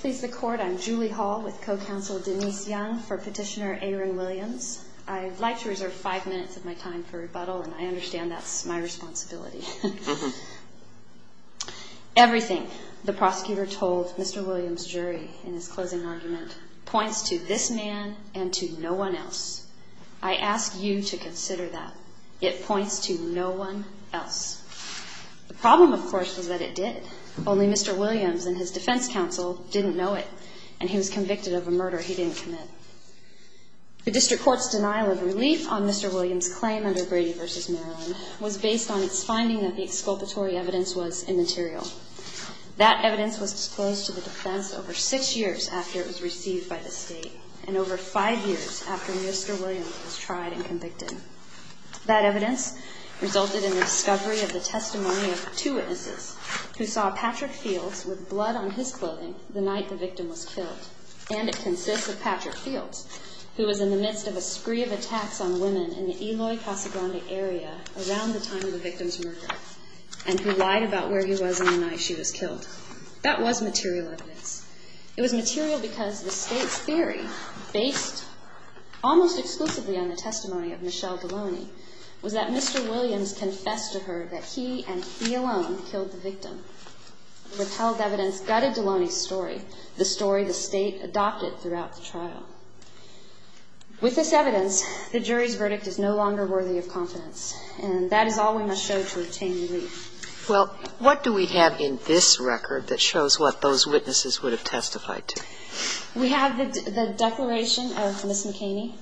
please the court I'm Julie Hall with co-counsel Denise Young for petitioner Aaron Williams I'd like to reserve five minutes of my time for rebuttal and I understand that's my responsibility everything the prosecutor told mr. Williams jury in his closing argument points to this man and to no one else I ask you to consider that it points to no one else the problem of course was that it did only mr. Williams and his defense counsel didn't know it and he was convicted of a murder he didn't commit the district courts denial of relief on mr. Williams claim under Brady vs. Maryland was based on its finding that the exculpatory evidence was immaterial that evidence was disclosed to the defense over six years after it was received by the state and over five years after mr. Williams was tried and convicted that evidence resulted in the discovery of the testimony of two witnesses who saw Patrick Fields with blood on his clothing the night the victim was killed and it consists of Patrick Fields who was in the midst of a spree of attacks on women in the Eloy Casagrande area around the time of the victim's murder and who lied about where he was in the night she was killed that was material evidence it was material because the state's theory based almost exclusively on the testimony of Michelle Delaney was that mr. Williams confessed to her that he and he alone killed the victim withheld evidence gutted Delaney's story the story the state adopted throughout the trial with this evidence the jury's verdict is no longer worthy of confidence and that is all we must show to obtain relief well what do we have in this record that shows what those witnesses would have testified to we have the declaration of miss McKinney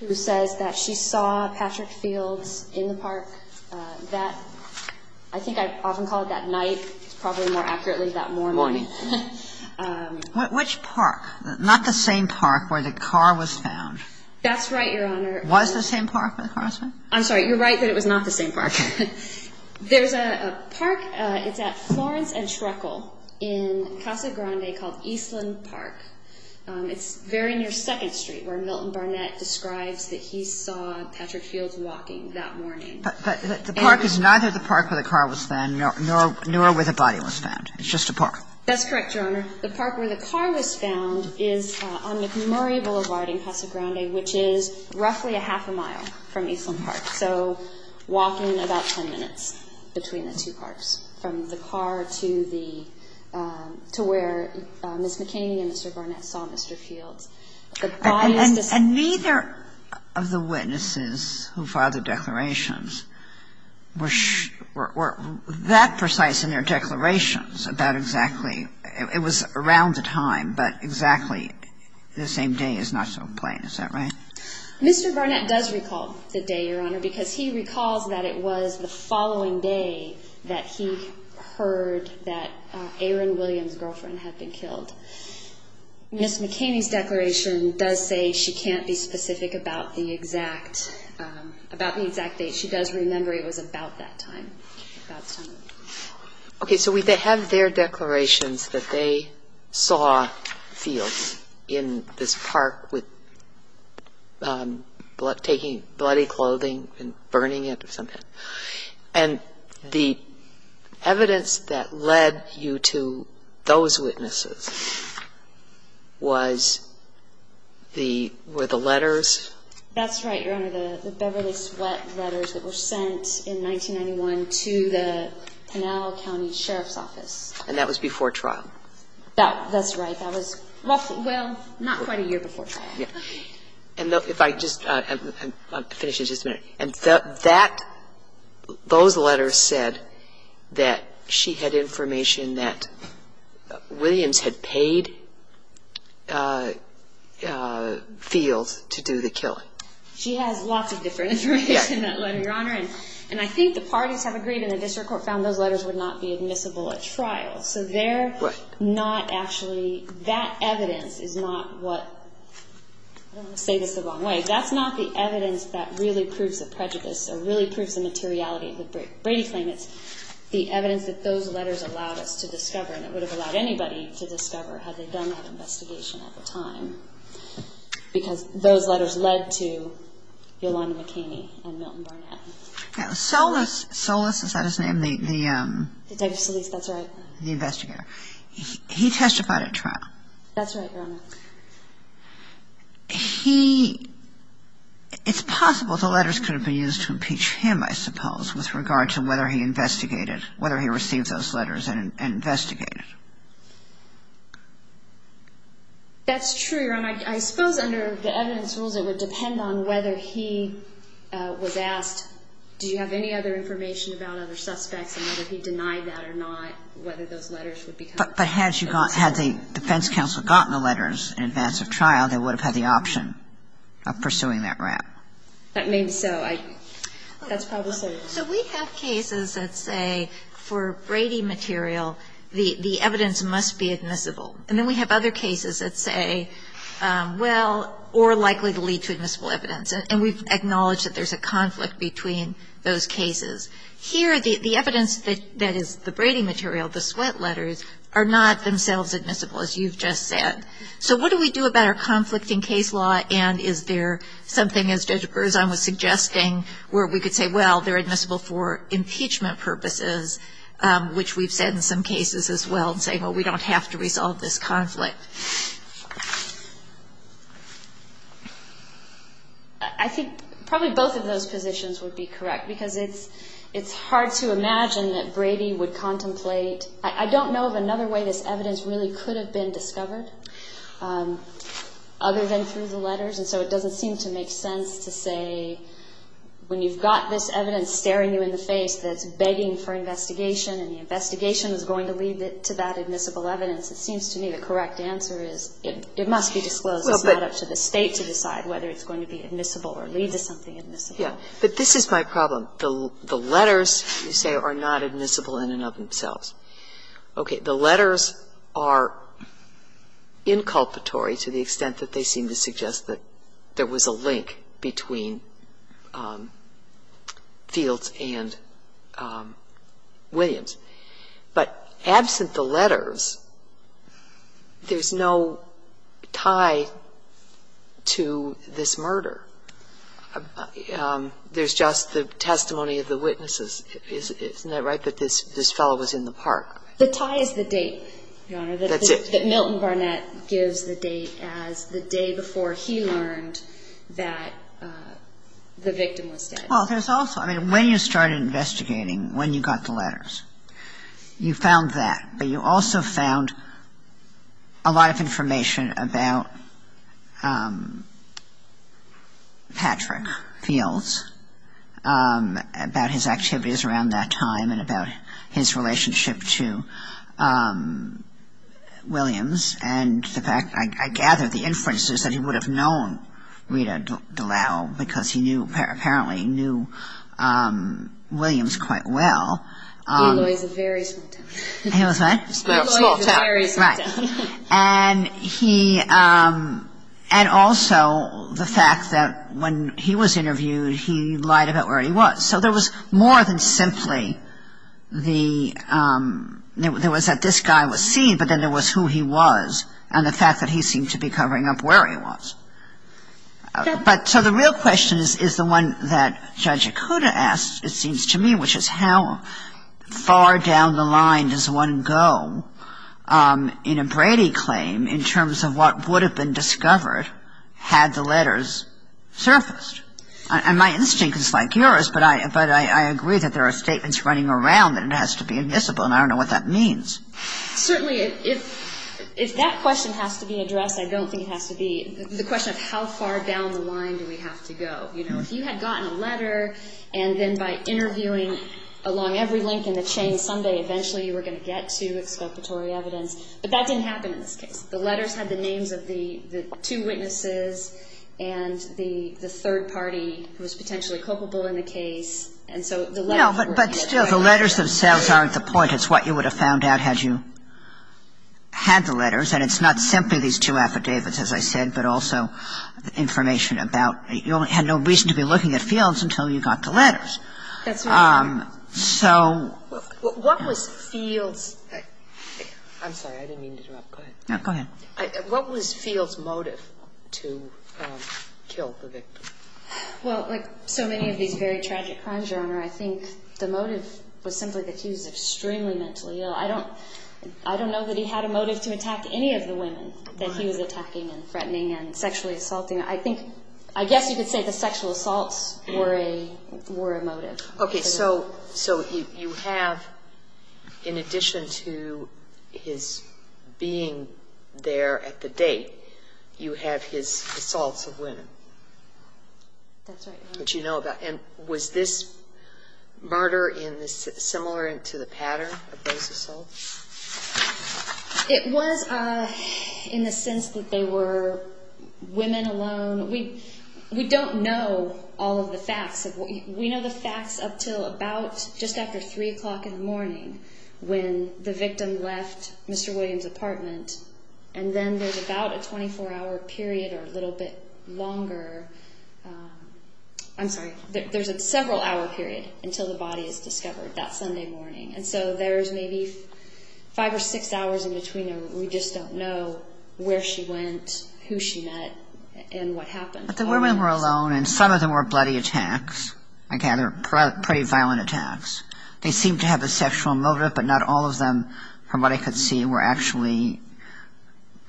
who says that she saw Patrick Fields in the park that I think I often call it that night probably more accurately that morning which park not the same park where the car was found that's right your honor was the same park across I'm sorry you're right that it was not the same park there's a park it's at Florence and Shreckle in Casa Grande called Eastland Park it's very near 2nd Street where Milton Barnett describes that he saw Patrick Fields walking that morning but the park is neither the park where the car was found nor where the body was found it's just a park that's correct your honor the park where the car was found is on McMurray Boulevard in Casa Grande which is roughly a half a mile from Eastland Park so walking about 10 minutes between the two parks from the car to the to where miss McKinney and mr. Barnett saw mr. Fields and neither of the witnesses who filed the declarations were that precise in their declarations about exactly it was around the time but exactly the same day is not so plain is that right mr. Barnett does recall the day your honor because he recalls that it was the killed miss McKinney's declaration does say she can't be specific about the exact about the exact date she does remember it was about that time okay so we have their declarations that they saw fields in this park with blood taking bloody clothing and burning it or something and the evidence that led you to those witnesses was the were the letters that's right your honor the Beverly Sweat letters that were sent in 1991 to the Pinal County Sheriff's Office and that was before trial that that's right that was roughly well not quite a year before and though if I just finish it just a minute and that those letters said that she had information that Williams had paid fields to do the killing and I think the parties have agreed in the district court found those letters would not be admissible at trial so they're not actually that evidence is not what say this the wrong way that's not the evidence that really proves the prejudice or really proves the materiality of the Brady claim it's the evidence that those letters allowed us to discover and it would have allowed anybody to discover had they done that investigation at the time because those letters led to Yolanda McKinney and Milton Barnett. Solis, Solis is that his name the the investigator he testified at trial that's right your honor he it's possible the letters could have been used to impeach him I suppose with regard to whether he investigated whether he received those letters and investigated that's true your honor I suppose under the evidence rules it would depend on whether he was asked do you have any other information about other suspects and whether he denied that or not whether those letters would be but had you gone had the defense counsel gotten the letters in advance of that maybe so I that's probably so we have cases that say for Brady material the the evidence must be admissible and then we have other cases that say well or likely to lead to admissible evidence and we've acknowledged that there's a conflict between those cases here the evidence that that is the Brady material the sweat letters are not themselves admissible as you've just said so what do we do about our conflicting case law and is there something as Judge Berzon was suggesting where we could say well they're admissible for impeachment purposes which we've said in some cases as well and say well we don't have to resolve this conflict I think probably both of those positions would be correct because it's it's hard to imagine that Brady would contemplate I don't know of other way this evidence really could have been discovered other than through the letters and so it doesn't seem to make sense to say when you've got this evidence staring you in the face that's begging for investigation and the investigation is going to lead it to that admissible evidence it seems to me the correct answer is it must be disclosed up to the state to decide whether it's going to be admissible or lead to something in this yeah but this is my problem the the letters you say are not admissible in and of themselves okay the letters are inculpatory to the extent that they seem to suggest that there was a link between Fields and Williams but absent the letters there's no tie to this murder there's just the testimony of the witnesses isn't that that this this fellow was in the park the tie is the date that Milton Barnett gives the date as the day before he learned that the victim was dead well there's also I mean when you started investigating when you got the letters you found that but you also found a lot of information about Patrick Fields about his activities around that time and about his relationship to Williams and the fact I gather the inferences that he would have known Rita Dallal because he knew apparently knew Williams quite well and he and also the fact that when he was interviewed he lied about where he was so there was more than simply the there was that this guy was seen but then there was who he was and the fact that he seemed to be covering up where he was but so the real question is is the one that Judge Okuda asked it seems to me which is how far down the line does one go in a Brady claim in terms of what would have been discovered had the and my instinct is like yours but I but I agree that there are statements running around that it has to be admissible and I don't know what that means certainly if if that question has to be addressed I don't think it has to be the question of how far down the line do we have to go you know if you had gotten a letter and then by interviewing along every link in the chain someday eventually you were going to get to exploitatory evidence but that didn't happen in this case the letters had the names of the two witnesses and the the third party who was potentially culpable in the case and so the letter but but still the letters themselves aren't the point it's what you would have found out had you had the letters and it's not simply these two affidavits as I said but also the information about you only had no reason to be looking at fields until you got the letters that's so what was fields I'm sorry I don't I don't know that he had a motive to attack any of the women that he was attacking and threatening and sexually assaulting I think I guess you could say the sexual assaults worry were emotive okay so so you have in addition to his being there at the date you have his assaults of women that's what you know about and was this murder in this similar to the pattern it was in the sense that they were women alone we we don't know all of the facts of what we know the facts up till about just after three o'clock in the morning when the apartment and then there's about a 24 hour period or a little bit longer I'm sorry there's a several hour period until the body is discovered that Sunday morning and so there's maybe five or six hours in between we just don't know where she went who she met and what happened but the women were alone and some of them were bloody attacks I gather pretty violent attacks they seem to have a sexual motive but not all of them from what I could see were actually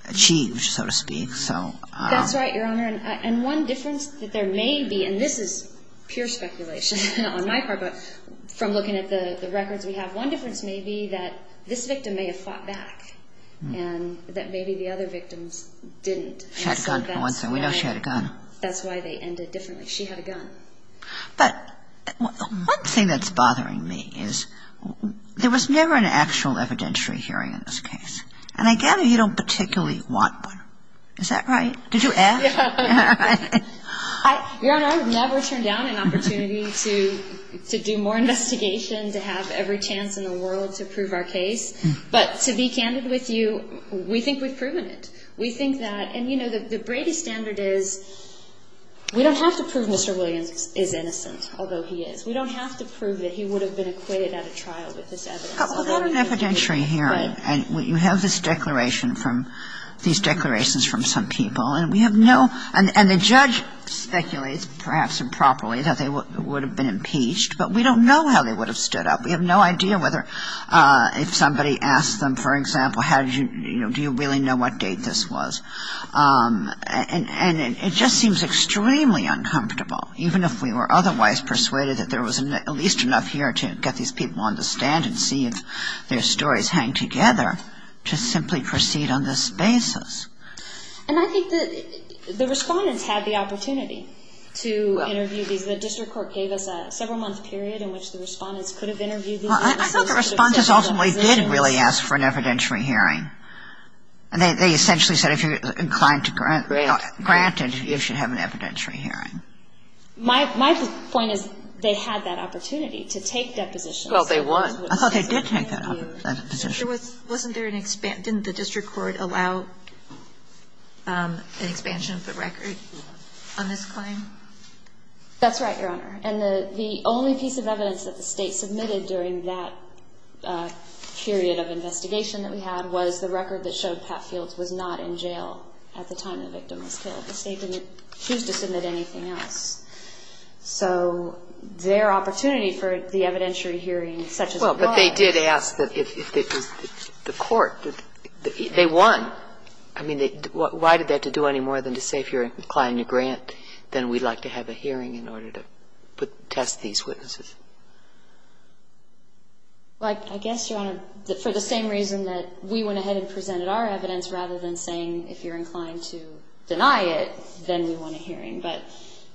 achieved so to speak so that's right your honor and one difference that there may be and this is pure speculation on my part but from looking at the records we have one difference may be that this victim may have fought back and that there was never an actual evidentiary hearing in this case and I gather you don't particularly want one is that right did you ever turn down an opportunity to to do more investigation to have every chance in the world to prove our case but to be candid with you we think we've proven it we think that and you know that the Brady standard is we don't have to prove mr. Williams is innocent although he is we don't have to prove that he would have been equated at a trial with this evidentiary hearing and what you have this declaration from these declarations from some people and we have no and the judge speculates perhaps improperly that they would have been impeached but we don't know how they would have stood up we have no idea whether if somebody asked them for example how did you know do you really know what date this was and and it just seems extremely uncomfortable even if we were otherwise persuaded that there was at least enough here to get these people on the stand and see if their stories hang together to simply proceed on this basis and I think that the respondents had the opportunity to interview these the district court gave us a several month period in which the respondents could have interviewed I thought the responses ultimately didn't really ask for an evidentiary hearing and they essentially said if you're inclined to grant granted you should have an evidentiary hearing my point is they had that opportunity to take deposition well they want I thought they did take that position with wasn't there an expanded the district court allow an expansion of the record on this claim that's right your honor and the the only piece of evidence that the state submitted during that period of investigation that we had was the record that showed Pat Fields was not in jail at the time the victim was killed the anything else so their opportunity for the evidentiary hearing such as well but they did ask that if the court did they won I mean they why did they have to do any more than to say if you're inclined to grant then we'd like to have a hearing in order to put test these witnesses like I guess you're on it for the same reason that we went ahead and presented our evidence rather than saying if you're inclined to deny it then we want to hearing but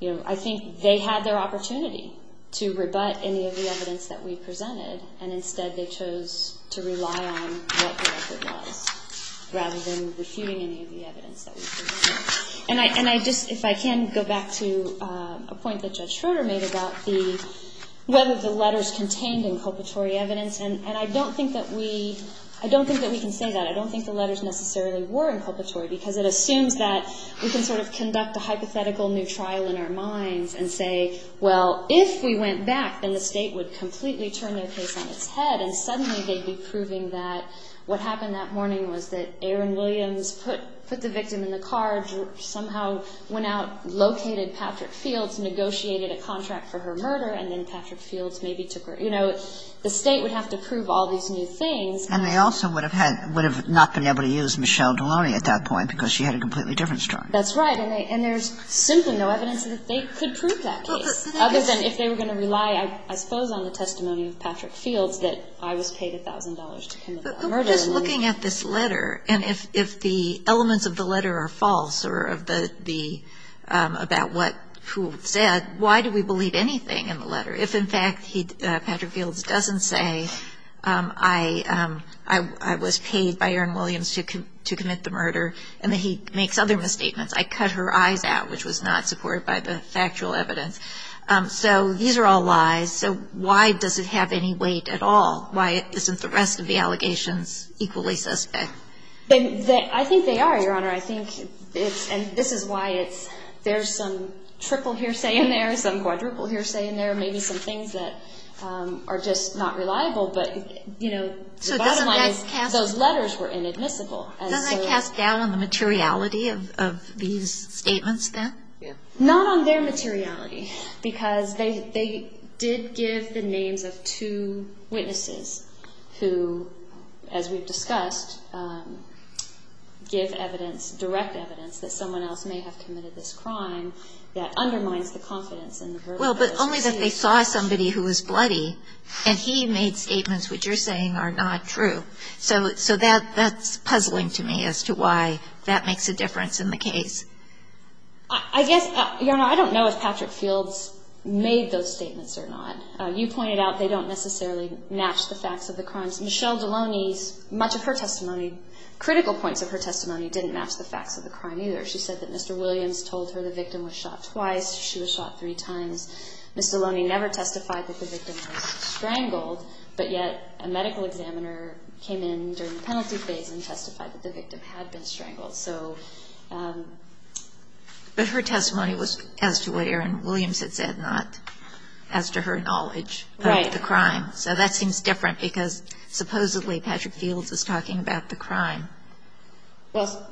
you know I think they had their opportunity to rebut any of the evidence that we presented and instead they chose to rely on rather than refuting any of the evidence and I and I just if I can go back to a point that judge Schroeder made about the whether the letters contained inculpatory evidence and and I don't think that we I don't think that we can say that I don't think the because it assumes that we can sort of conduct a hypothetical new trial in our minds and say well if we went back then the state would completely turn their case on its head and suddenly they'd be proving that what happened that morning was that Aaron Williams put put the victim in the car somehow went out located Patrick Fields negotiated a contract for her murder and then Patrick Fields maybe took her you know the state would have to prove all these new things and they also would have had would have not been able to use Michelle Delaunay at that point because she had a completely different story that's right and there's simply no evidence that they could prove that other than if they were going to rely I suppose on the testimony of Patrick Fields that I was paid a thousand dollars looking at this letter and if the elements of the letter are false or of the the about what who said why do we believe anything in the letter if in fact he Patrick Fields doesn't say I I was paid by Aaron Williams to commit the murder and that he makes other misstatements I cut her eyes out which was not supported by the factual evidence so these are all lies so why does it have any weight at all why isn't the rest of the allegations equally suspect I think they are your honor I think it's and this is why it's there's some triple hearsay in there some quadruple hearsay in there maybe some things that are just not reliable but you know so those letters were inadmissible and I cast down on the materiality of these statements then yeah not on their materiality because they did give the names of two witnesses who as we've discussed give evidence direct evidence that someone else may have committed this crime that undermines the confidence and well but only that they saw somebody who was bloody and he made statements which you're saying are not true so so that that's puzzling to me as to why that makes a difference in the case I guess you know I don't know if Patrick Fields made those statements or not you pointed out they don't necessarily match the facts of the crimes Michelle Deloney's much of her testimony critical points of her testimony didn't match the facts of the crime either she said that mr. Williams told her the victim was shot twice she was shot three times mr. Loney never testified that the victim strangled but yet a medical examiner came in during the penalty phase and testified that the victim had been strangled so but her testimony was as to what Aaron Williams had said not as to her knowledge right the crime so that seems different because supposedly Patrick Fields was talking about the well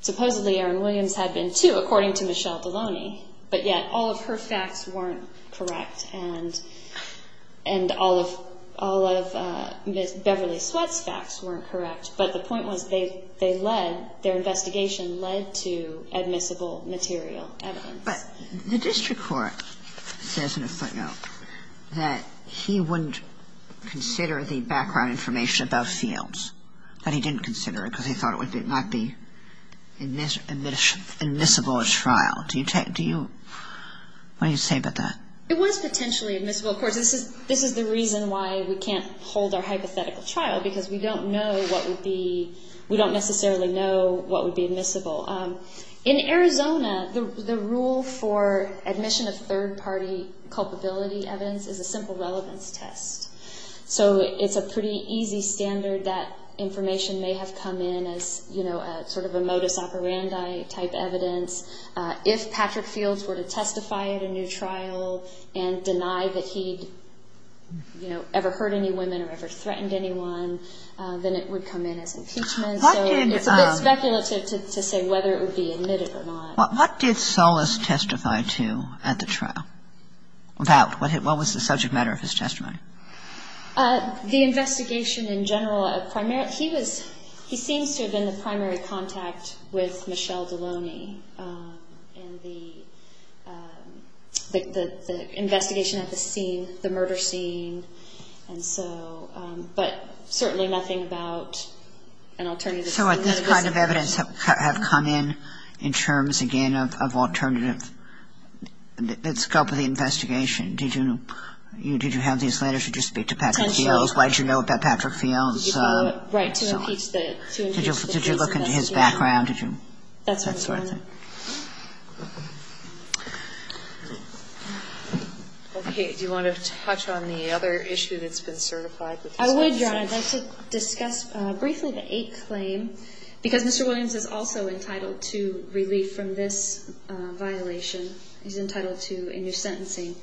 supposedly Aaron Williams had been to according to Michelle Deloney but yet all of her facts weren't correct and and all of all of Miss Beverly sweats facts weren't correct but the point was they they led their investigation led to admissible material evidence but the district court says in a footnote that he wouldn't consider the background information about fields that he didn't consider it because he thought it would be might be in this admissible trial do you take do you what do you say about that it was potentially admissible of course this is this is the reason why we can't hold our hypothetical trial because we don't know what would be we don't necessarily know what would be admissible in Arizona the rule for admission of third-party culpability evidence is a simple relevance test so it's a pretty easy standard that information may have come in as you know sort of a modus operandi type evidence if Patrick Fields were to testify at a new trial and deny that he'd you know ever heard any women or ever threatened anyone then it would come in as a speculative to say whether it would be admitted or not what did solace testify to at the trial about what was the subject matter of his testimony the investigation in general a primary he was he seems to have been the primary contact with Michelle Deloney and the investigation at the scene the murder scene and so but certainly nothing about an alternative so what this kind of evidence have come in in terms again of alternative let's go for the investigation did you know you did you have these letters you just speak to Patrick Hills why'd you know about Patrick Fields did you look into his background did you that's that's worth it okay do you want to touch on the other issue that's been certified I would is also entitled to relief from this violation he's entitled to a new sentencing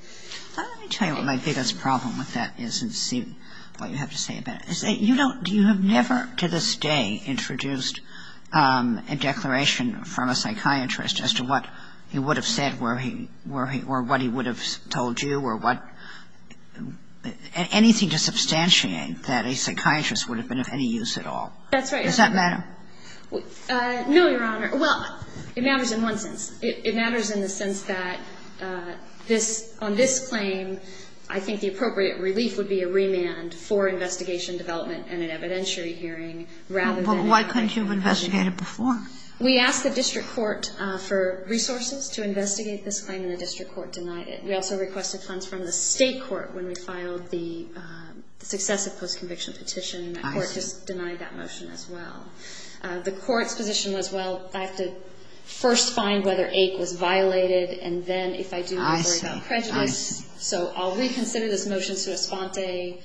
tell you what my biggest problem with that is and see what you have to say about is that you don't do you have never to this day introduced a declaration from a psychiatrist as to what he would have said where he were he or what he would have told you or what anything to substantiate that a no your honor well it matters in one sense it matters in the sense that this on this claim I think the appropriate relief would be a remand for investigation development and an evidentiary hearing rather why couldn't you have investigated before we asked the district court for resources to investigate this claim in the district court denied it we also requested funds from the state court when we filed the successive post-conviction petition just denied that motion as well the court's position was well I have to first find whether ache was violated and then if I do I say prejudice so all we consider this motion to a spa day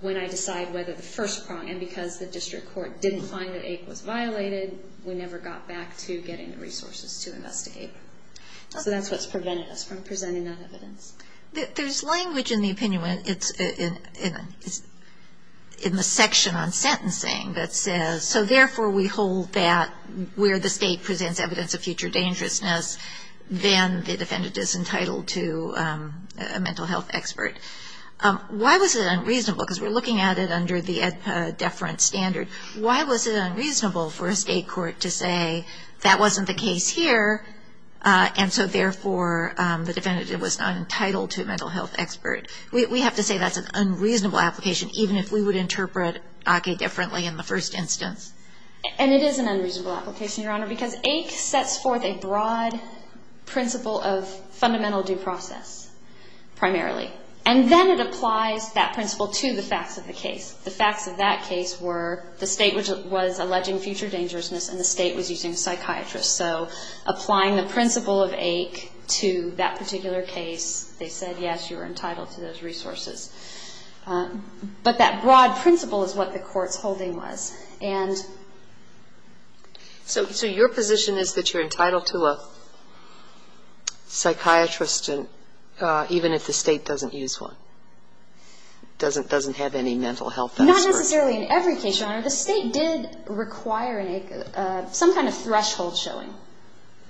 when I decide whether the first prong and because the district court didn't find that ache was violated we never got back to getting the resources to investigate so that's what's prevented us from presenting that evidence there's language in the opinion when it's in in the section on sentencing that says so therefore we hold that where the state presents evidence of future dangerousness then the defendant is entitled to a mental health expert why was it unreasonable because we're looking at it under the deference standard why was it unreasonable for a state court to say that wasn't the case here and so therefore the defendant it was not entitled to a mental health expert we have to say that's an unreasonable application even if we would interpret okay differently in the first instance and it is an unreasonable application your honor because ache sets forth a broad principle of fundamental due process primarily and then it applies that principle to the facts of the case the facts of that case were the state which was alleging future dangerousness and the state was using psychiatrists so applying the principle of ache to that particular case they said yes you were but that broad principle is what the courts holding was and so your position is that you're entitled to a psychiatrist and even if the state doesn't use one doesn't doesn't have any mental health not necessarily in every case your honor the state did require an ache some kind of threshold showing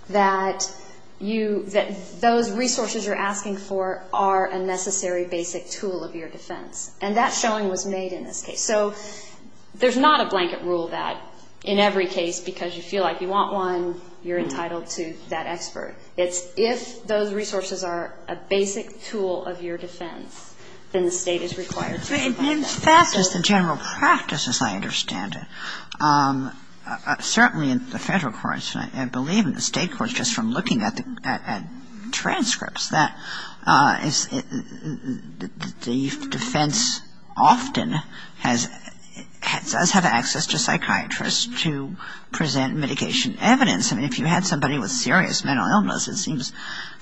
that you that those resources you're asking for are a necessary basic tool of your defense and that showing was made in this case so there's not a blanket rule that in every case because you feel like you want one you're entitled to that expert it's if those resources are a basic tool of your defense then the state is required to do that. It means that is the general practice as I understand it certainly in the federal courts and I believe in the state courts just from looking at the transcripts the defense often has does have access to psychiatrists to present mitigation evidence and if you had somebody with serious mental illness it seems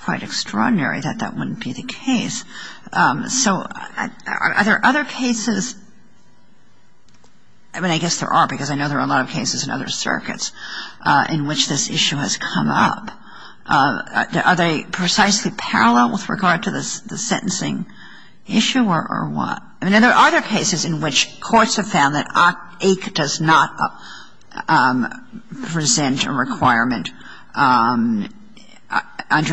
quite extraordinary that that wouldn't be the case so are there other cases I mean I guess there are because I know there are a lot of cases in other circuits in which this issue has come up are they precisely parallel with regard to this the sentencing issue or what I mean there are other cases in which courts have found that ache does not present a requirement under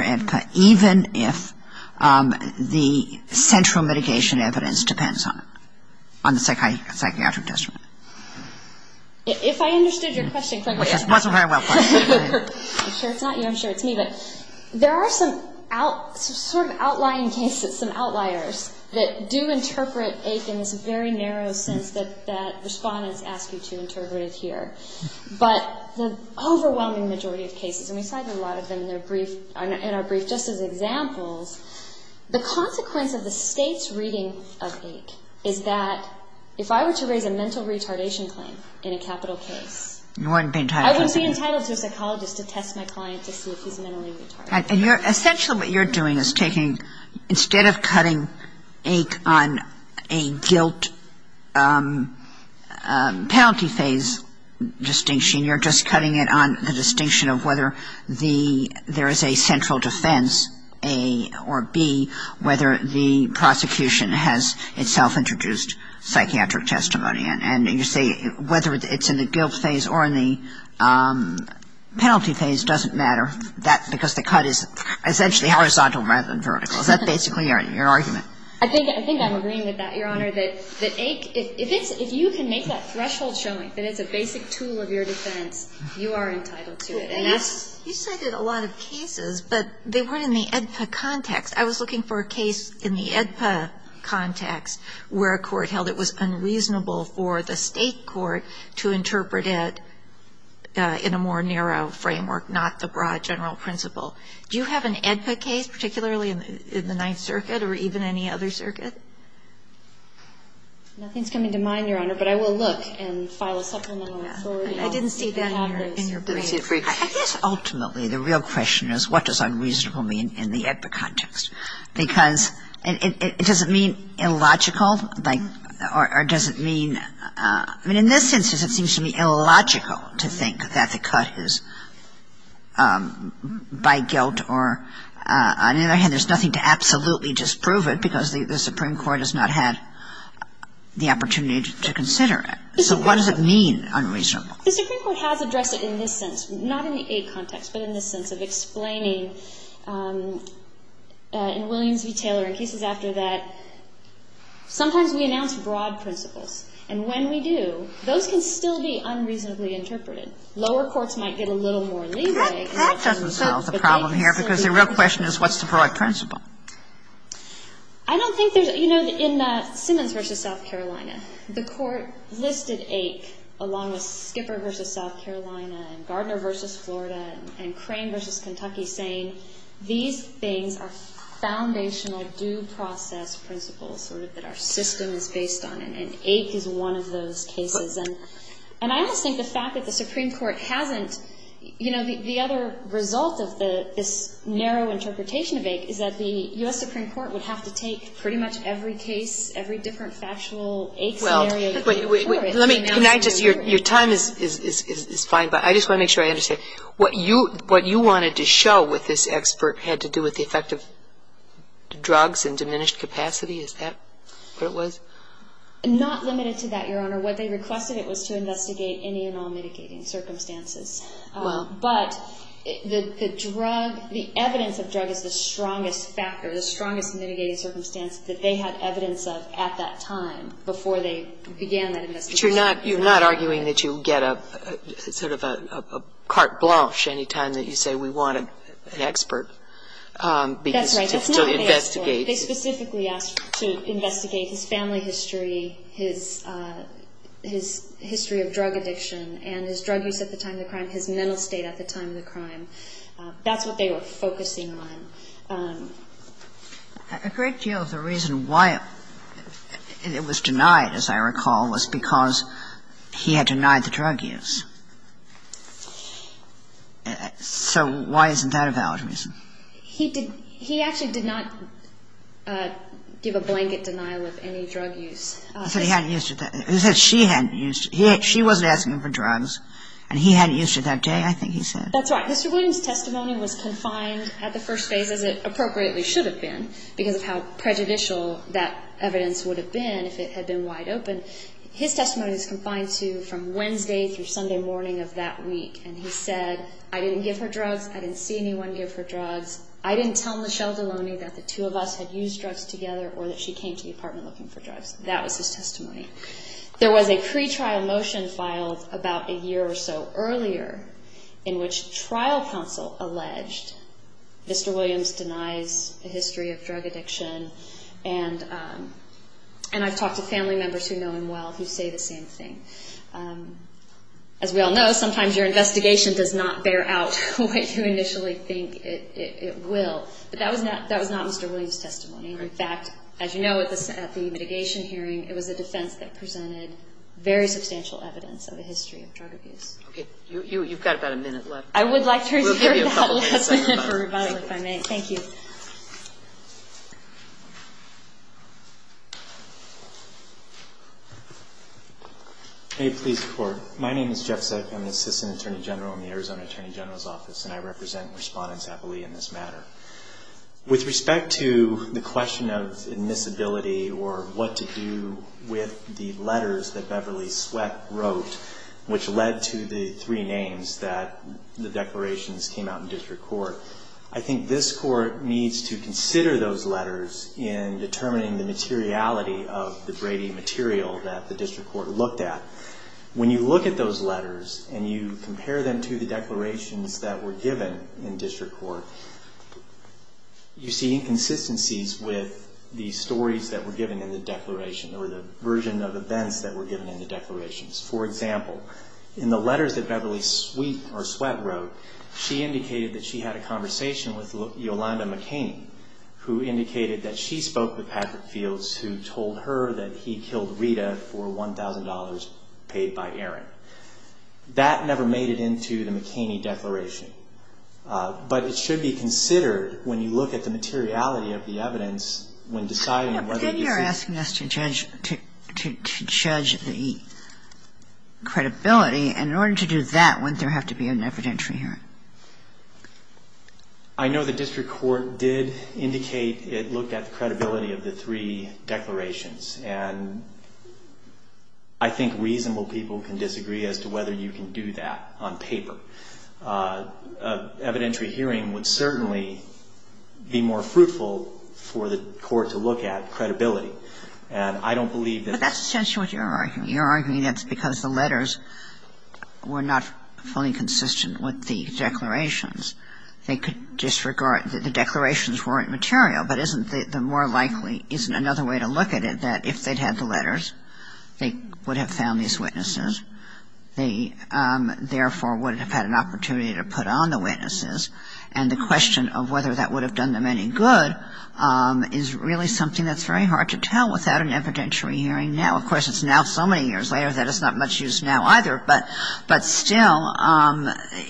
AEDPA even if the central mitigation evidence depends on it on the psychiatric test. If I understood your question clearly. I'm sure it's not you I'm sure it's me but there are some out sort of outlying cases some outliers that do interpret ache in this very narrow sense that respondents ask you to interpret it here but the overwhelming majority of cases and we cited a lot of them in our brief just as examples the consequence of the mental retardation claim in a capital case. I wouldn't be entitled to a psychologist to test my client to see if he's mentally retarded. Essentially what you're doing is taking instead of cutting ache on a guilt penalty phase distinction you're just cutting it on the distinction of whether the there is a central defense A or B whether the prosecution has itself an animal or not. It is a judgment of the psychiatric testimony and you see whether it's in the guilt phase or in the penalty phase doesn't matter that because the cut is essentially horizontal rather than vertical. Is that basically your argument? I think I'm agreeing with that, Your Honor. That if you can make that threshold showing that it's a basic tool of your defense, you are entitled to it. You cited a lot of cases, but they weren't in the AEDPA context. I was looking for a case in the AEDPA context where a court held it was unreasonable for the state court to interpret it in a more narrow framework, not the broad general principle. Do you have an AEDPA case, particularly in the Ninth Circuit or even any other circuit? Nothing is coming to mind, Your Honor, but I will look and file a supplemental authority. I didn't see that in your brief. I guess ultimately the real question is what does unreasonable mean in the AEDPA context? Because it doesn't mean illogical, like, or does it mean, I mean, in this instance it seems to me illogical to think that the cut is by guilt or, on the other hand, there's nothing to absolutely disprove it because the Supreme Court has not had the opportunity to consider it. So what does it mean, unreasonable? The Supreme Court has addressed it in this sense, not in the AEDPA context, but in this sense of explaining, in Williams v. Taylor and cases after that, sometimes we announce broad principles. And when we do, those can still be unreasonably interpreted. Lower courts might get a little more leeway. That doesn't solve the problem here because the real question is what's the broad principle? I don't think there's – you know, in Simmons v. South Carolina, the Court listed AIC along with Skipper v. South Carolina and Gardner v. Florida and Crane v. Kentucky saying these things are foundational due process principles sort of that our system is based on, and AIC is one of those cases. And I almost think the fact that the Supreme Court hasn't – you know, the other result of this narrow interpretation of AIC is that the U.S. Supreme Court would have to take pretty much every case, every different factual AIC scenario. Let me – can I just – your time is fine, but I just want to make sure I understand. What you wanted to show with this expert had to do with the effect of drugs in diminished capacity? Is that what it was? Not limited to that, Your Honor. What they requested, it was to investigate any and all mitigating circumstances. But the drug – the evidence of drug is the strongest factor, the strongest mitigating circumstance that they had evidence of at that time before they began that investigation. But you're not arguing that you get a sort of a carte blanche any time that you say we want an expert to investigate? That's right. That's not what they asked for. They specifically asked to investigate his family history, his history of drug addiction and his drug use at the time of the crime, his mental state at the time of the crime. That's what they were focusing on. A great deal of the reason why it was denied, as I recall, was because he had denied the drug use. So why isn't that a valid reason? He actually did not give a blanket denial of any drug use. He said he hadn't used it. He said she hadn't used it. She wasn't asking him for drugs. And he hadn't used it that day, I think he said. That's right. Mr. Bloom's testimony was confined at the first phase, as it appropriately should have been, because of how prejudicial that evidence would have been if it had been wide open. His testimony is confined to from Wednesday through Sunday morning of that week. And he said, I didn't give her drugs. I didn't see anyone give her drugs. I didn't tell Michelle Deloney that the two of us had used drugs together or that she came to the apartment looking for drugs. That was his testimony. There was a pretrial motion filed about a year or so earlier in which trial counsel alleged Mr. Williams denies a history of drug addiction. And I've talked to family members who know him well who say the same thing. As we all know, sometimes your investigation does not bear out what you initially think it will. But that was not Mr. Williams' testimony. In fact, as you know, at the mitigation hearing, it was a defense that presented very substantial evidence of a history of drug abuse. Okay. You've got about a minute left. I would like to reserve that last minute for rebuttal if I may. Thank you. Go ahead. May it please the Court. My name is Jeff Sack. I'm an Assistant Attorney General in the Arizona Attorney General's Office, and I represent respondents happily in this matter. With respect to the question of admissibility or what to do with the letters that Beverly Sweat wrote which led to the three names that the declarations came out in the District Court, I think this Court needs to consider those letters in determining the materiality of the Brady material that the District Court looked at. When you look at those letters and you compare them to the declarations that were given in District Court, you see inconsistencies with the stories that were given in the declaration or the version of events that were given in the declarations. For example, in the letters that Beverly Sweat wrote, she indicated that she had a conversation with Yolanda McCain, who indicated that she spoke with Patrick Fields, who told her that he killed Rita for $1,000 paid by Aaron. That never made it into the McCain declaration. But it should be considered when you look at the materiality of the evidence when deciding whether this is the case. And in order to do that, wouldn't there have to be an evidentiary hearing? I know the District Court did indicate it looked at the credibility of the three declarations. And I think reasonable people can disagree as to whether you can do that on paper. An evidentiary hearing would certainly be more fruitful for the Court to look at And I don't believe that the ---- That's essentially what you're arguing. You're arguing that's because the letters were not fully consistent with the declarations. They could disregard that the declarations weren't material, but isn't the more likely, isn't another way to look at it, that if they'd had the letters, they would have found these witnesses. They, therefore, would have had an opportunity to put on the witnesses. And the question of whether that would have done them any good is really something that's very hard to tell without an evidentiary hearing now. Of course, it's now so many years later that it's not much use now either. But still,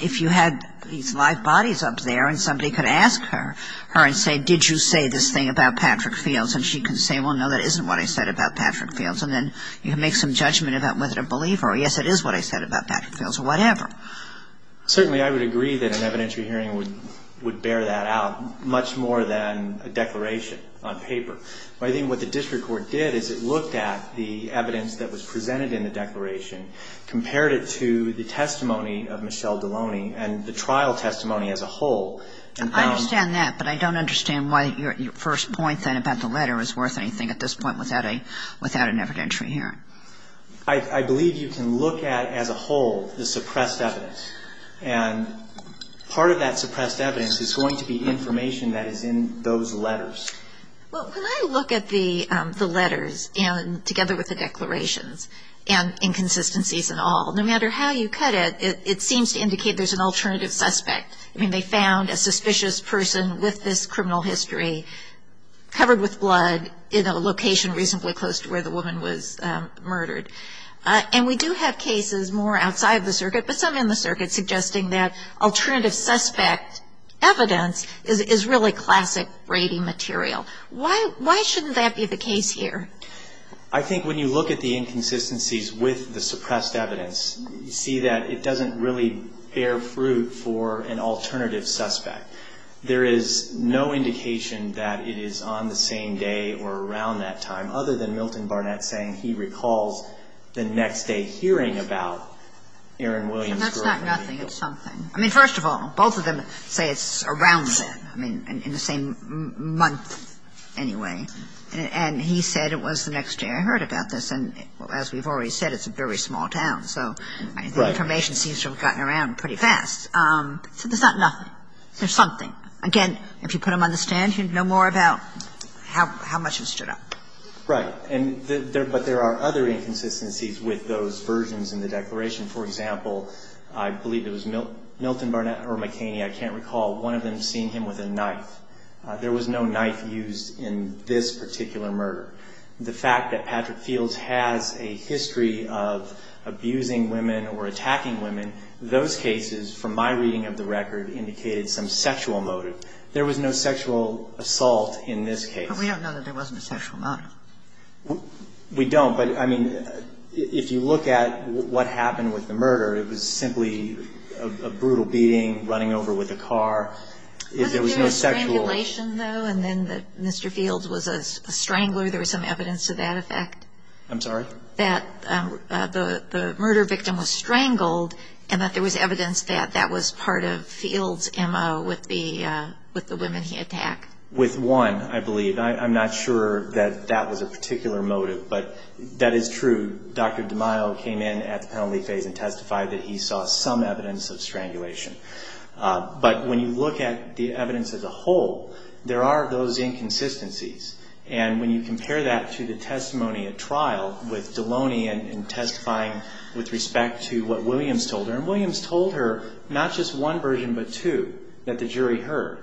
if you had these live bodies up there and somebody could ask her and say, did you say this thing about Patrick Fields? And she can say, well, no, that isn't what I said about Patrick Fields. And then you can make some judgment about whether to believe her. Yes, it is what I said about Patrick Fields or whatever. Certainly, I would agree that an evidentiary hearing would bear that out much more than a declaration on paper. I think what the district court did is it looked at the evidence that was presented in the declaration, compared it to the testimony of Michelle Deloney and the trial testimony as a whole. I understand that, but I don't understand why your first point then about the letter is worth anything at this point without an evidentiary hearing. I believe you can look at, as a whole, the suppressed evidence. And part of that suppressed evidence is going to be information that is in those letters. Well, when I look at the letters, together with the declarations, and inconsistencies and all, no matter how you cut it, it seems to indicate there's an alternative suspect. I mean, they found a suspicious person with this criminal history covered with blood in a location reasonably close to where the woman was murdered. And we do have cases more outside of the circuit, but some in the circuit, suggesting that alternative suspect evidence is really classic Brady material. Why shouldn't that be the case here? I think when you look at the inconsistencies with the suppressed evidence, you see that it doesn't really bear fruit for an alternative suspect. There is no indication that it is on the same day or around that time, other than Milton Barnett saying he recalls the next day hearing about Aaron Williams' murder. And that's not nothing. It's something. I mean, first of all, both of them say it's around then, I mean, in the same month anyway. And he said it was the next day I heard about this. And as we've already said, it's a very small town. So the information seems to have gotten around pretty fast. So there's not nothing. There's something. Again, if you put them on the stand, you'd know more about how much has stood up. Right. But there are other inconsistencies with those versions in the declaration. For example, I believe it was Milton Barnett or McKaney, I can't recall, one of them seeing him with a knife. There was no knife used in this particular murder. The fact that Patrick Fields has a history of abusing women or attacking women, those cases, from my reading of the record, indicated some sexual motive. There was no sexual assault in this case. But we don't know that there wasn't a sexual motive. We don't. But, I mean, if you look at what happened with the murder, it was simply a brutal beating, running over with a car. There was no sexual. Wasn't there a strangulation, though, and then that Mr. Fields was a strangler? There was some evidence to that effect. I'm sorry? That the murder victim was strangled and that there was evidence that that was part of Fields' MO with the women he attacked. With one, I believe. I'm not sure that that was a particular motive, but that is true. Dr. DeMaio came in at the penalty phase and testified that he saw some evidence of strangulation. But when you look at the evidence as a whole, there are those inconsistencies. And when you compare that to the testimony at trial with Deloney and testifying with respect to what Williams told her, and Williams told her not just one version but two that the jury heard.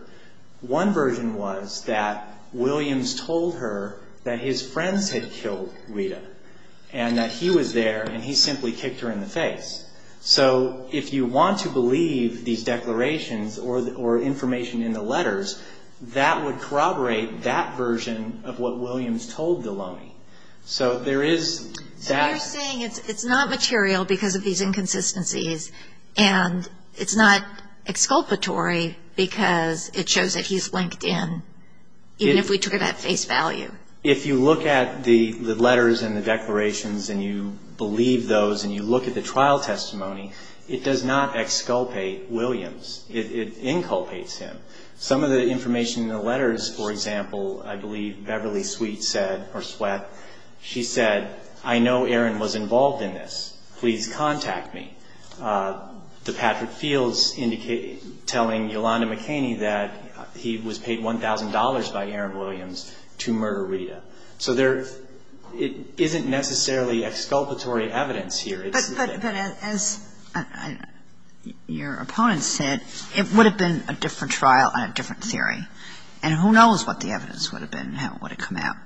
One version was that Williams told her that his friends had killed Rita and that he was there and he simply kicked her in the face. So if you want to believe these declarations or information in the letters, that would corroborate that version of what Williams told Deloney. So there is that. So you're saying it's not material because of these inconsistencies and it's not exculpatory because it shows that he's linked in, even if we took it at face value? If you look at the letters and the declarations and you believe those and you look at the trial testimony, it does not exculpate Williams. It inculpates him. Some of the information in the letters, for example, I believe Beverly Sweet said or Sweat, she said, I know Aaron was involved in this. Please contact me. The Patrick Fields telling Yolanda McKaney that he was paid $1,000 by Aaron Williams to murder Rita. So there isn't necessarily exculpatory evidence here. But as your opponent said, it would have been a different trial and a different theory. And who knows what the evidence would have been and how it would have come out.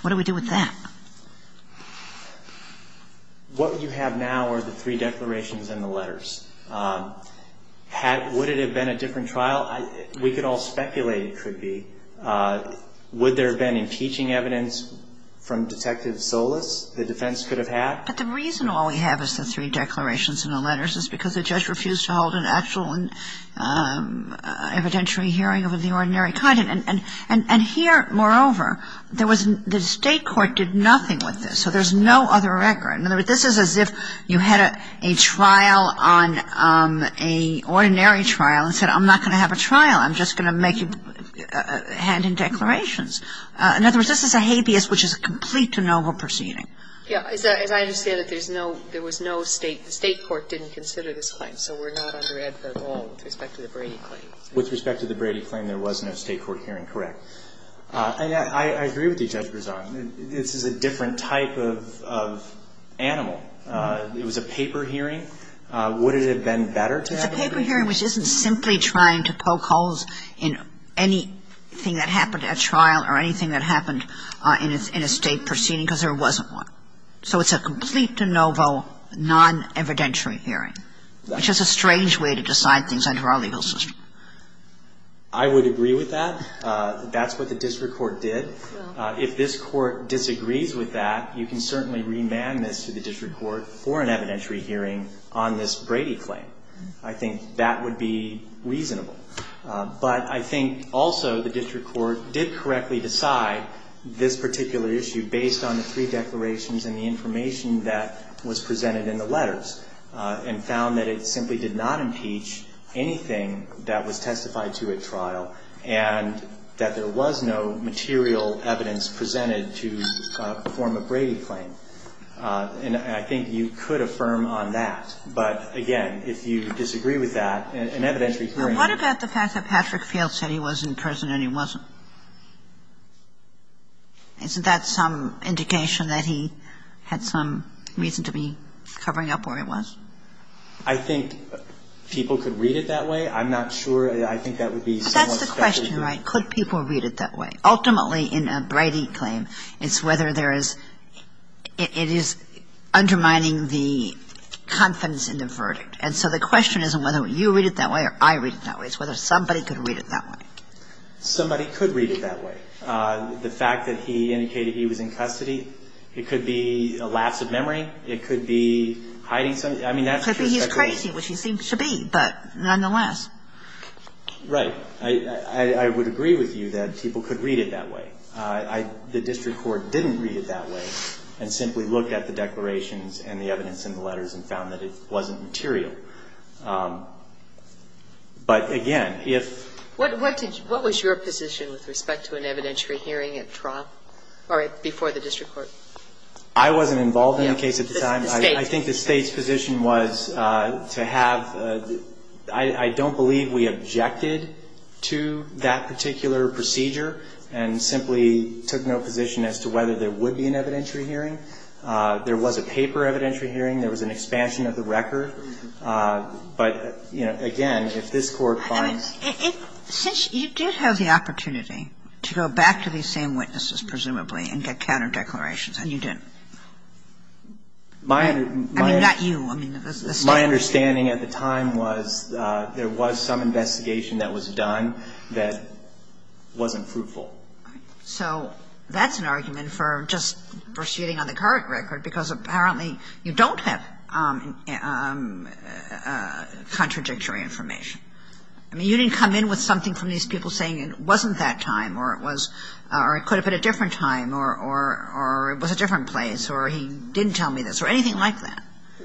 What do we do with that? What you have now are the three declarations and the letters. Would it have been a different trial? We could all speculate it could be. Would there have been impeaching evidence from Detective Solis the defense could have had? But the reason all we have is the three declarations and the letters is because the judge refused to hold an actual evidentiary hearing of the ordinary kind. And here, moreover, the State court did nothing with this. So there's no other record. In other words, this is as if you had a trial on a ordinary trial and said, I'm not going to have a trial. I'm just going to make you hand in declarations. In other words, this is a habeas which is a complete de novo proceeding. Yeah. As I understand it, there was no State. The State court didn't consider this claim. So we're not under it at all with respect to the Brady claim. With respect to the Brady claim, there was no State court hearing. Correct. And I agree with you, Judge Berzon. This is a different type of animal. It was a paper hearing. Would it have been better to have a paper hearing? It's a paper hearing which isn't simply trying to poke holes in anything that happened at trial or anything that happened in a State proceeding because there wasn't one. So it's a complete de novo, non-evidentiary hearing, which is a strange way to decide things under our legal system. I would agree with that. That's what the district court did. If this Court disagrees with that, you can certainly remand this to the district court for an evidentiary hearing on this Brady claim. I think that would be reasonable. But I think also the district court did correctly decide this particular issue based on the three declarations and the information that was presented in the letters. And found that it simply did not impeach anything that was testified to at trial and that there was no material evidence presented to perform a Brady claim. And I think you could affirm on that. But, again, if you disagree with that, an evidentiary hearing can be used. What about the fact that Patrick Field said he was in prison and he wasn't? Isn't that some indication that he had some reason to be covering up where he was? I think people could read it that way. I'm not sure. I think that would be somewhat special. But that's the question, right? Could people read it that way? Ultimately, in a Brady claim, it's whether there is – it is undermining the confidence in the verdict. And so the question isn't whether you read it that way or I read it that way. It's whether somebody could read it that way. Somebody could read it that way. The fact that he indicated he was in custody, it could be a lapse of memory. It could be hiding something. I mean, that's just – It could be he's crazy, which he seems to be, but nonetheless. Right. I would agree with you that people could read it that way. The district court didn't read it that way and simply looked at the declarations and the evidence in the letters and found that it wasn't material. But, again, if – What was your position with respect to an evidentiary hearing at trial or before the district court? I wasn't involved in the case at the time. I think the State's position was to have – I don't believe we objected to that particular procedure and simply took no position as to whether there would be an evidentiary hearing. There was a paper evidentiary hearing. There was an expansion of the record. But, you know, again, if this Court finds – I mean, since you did have the opportunity to go back to these same witnesses, presumably, and get counter declarations, and you didn't. My – I mean, not you. I mean, the State. My understanding at the time was there was some investigation that was done that wasn't fruitful. So that's an argument for just proceeding on the current record, because apparently you don't have contradictory information. I mean, you didn't come in with something from these people saying it wasn't that time or it was – or it could have been a different time or it was a different place or he didn't tell me this or anything like that.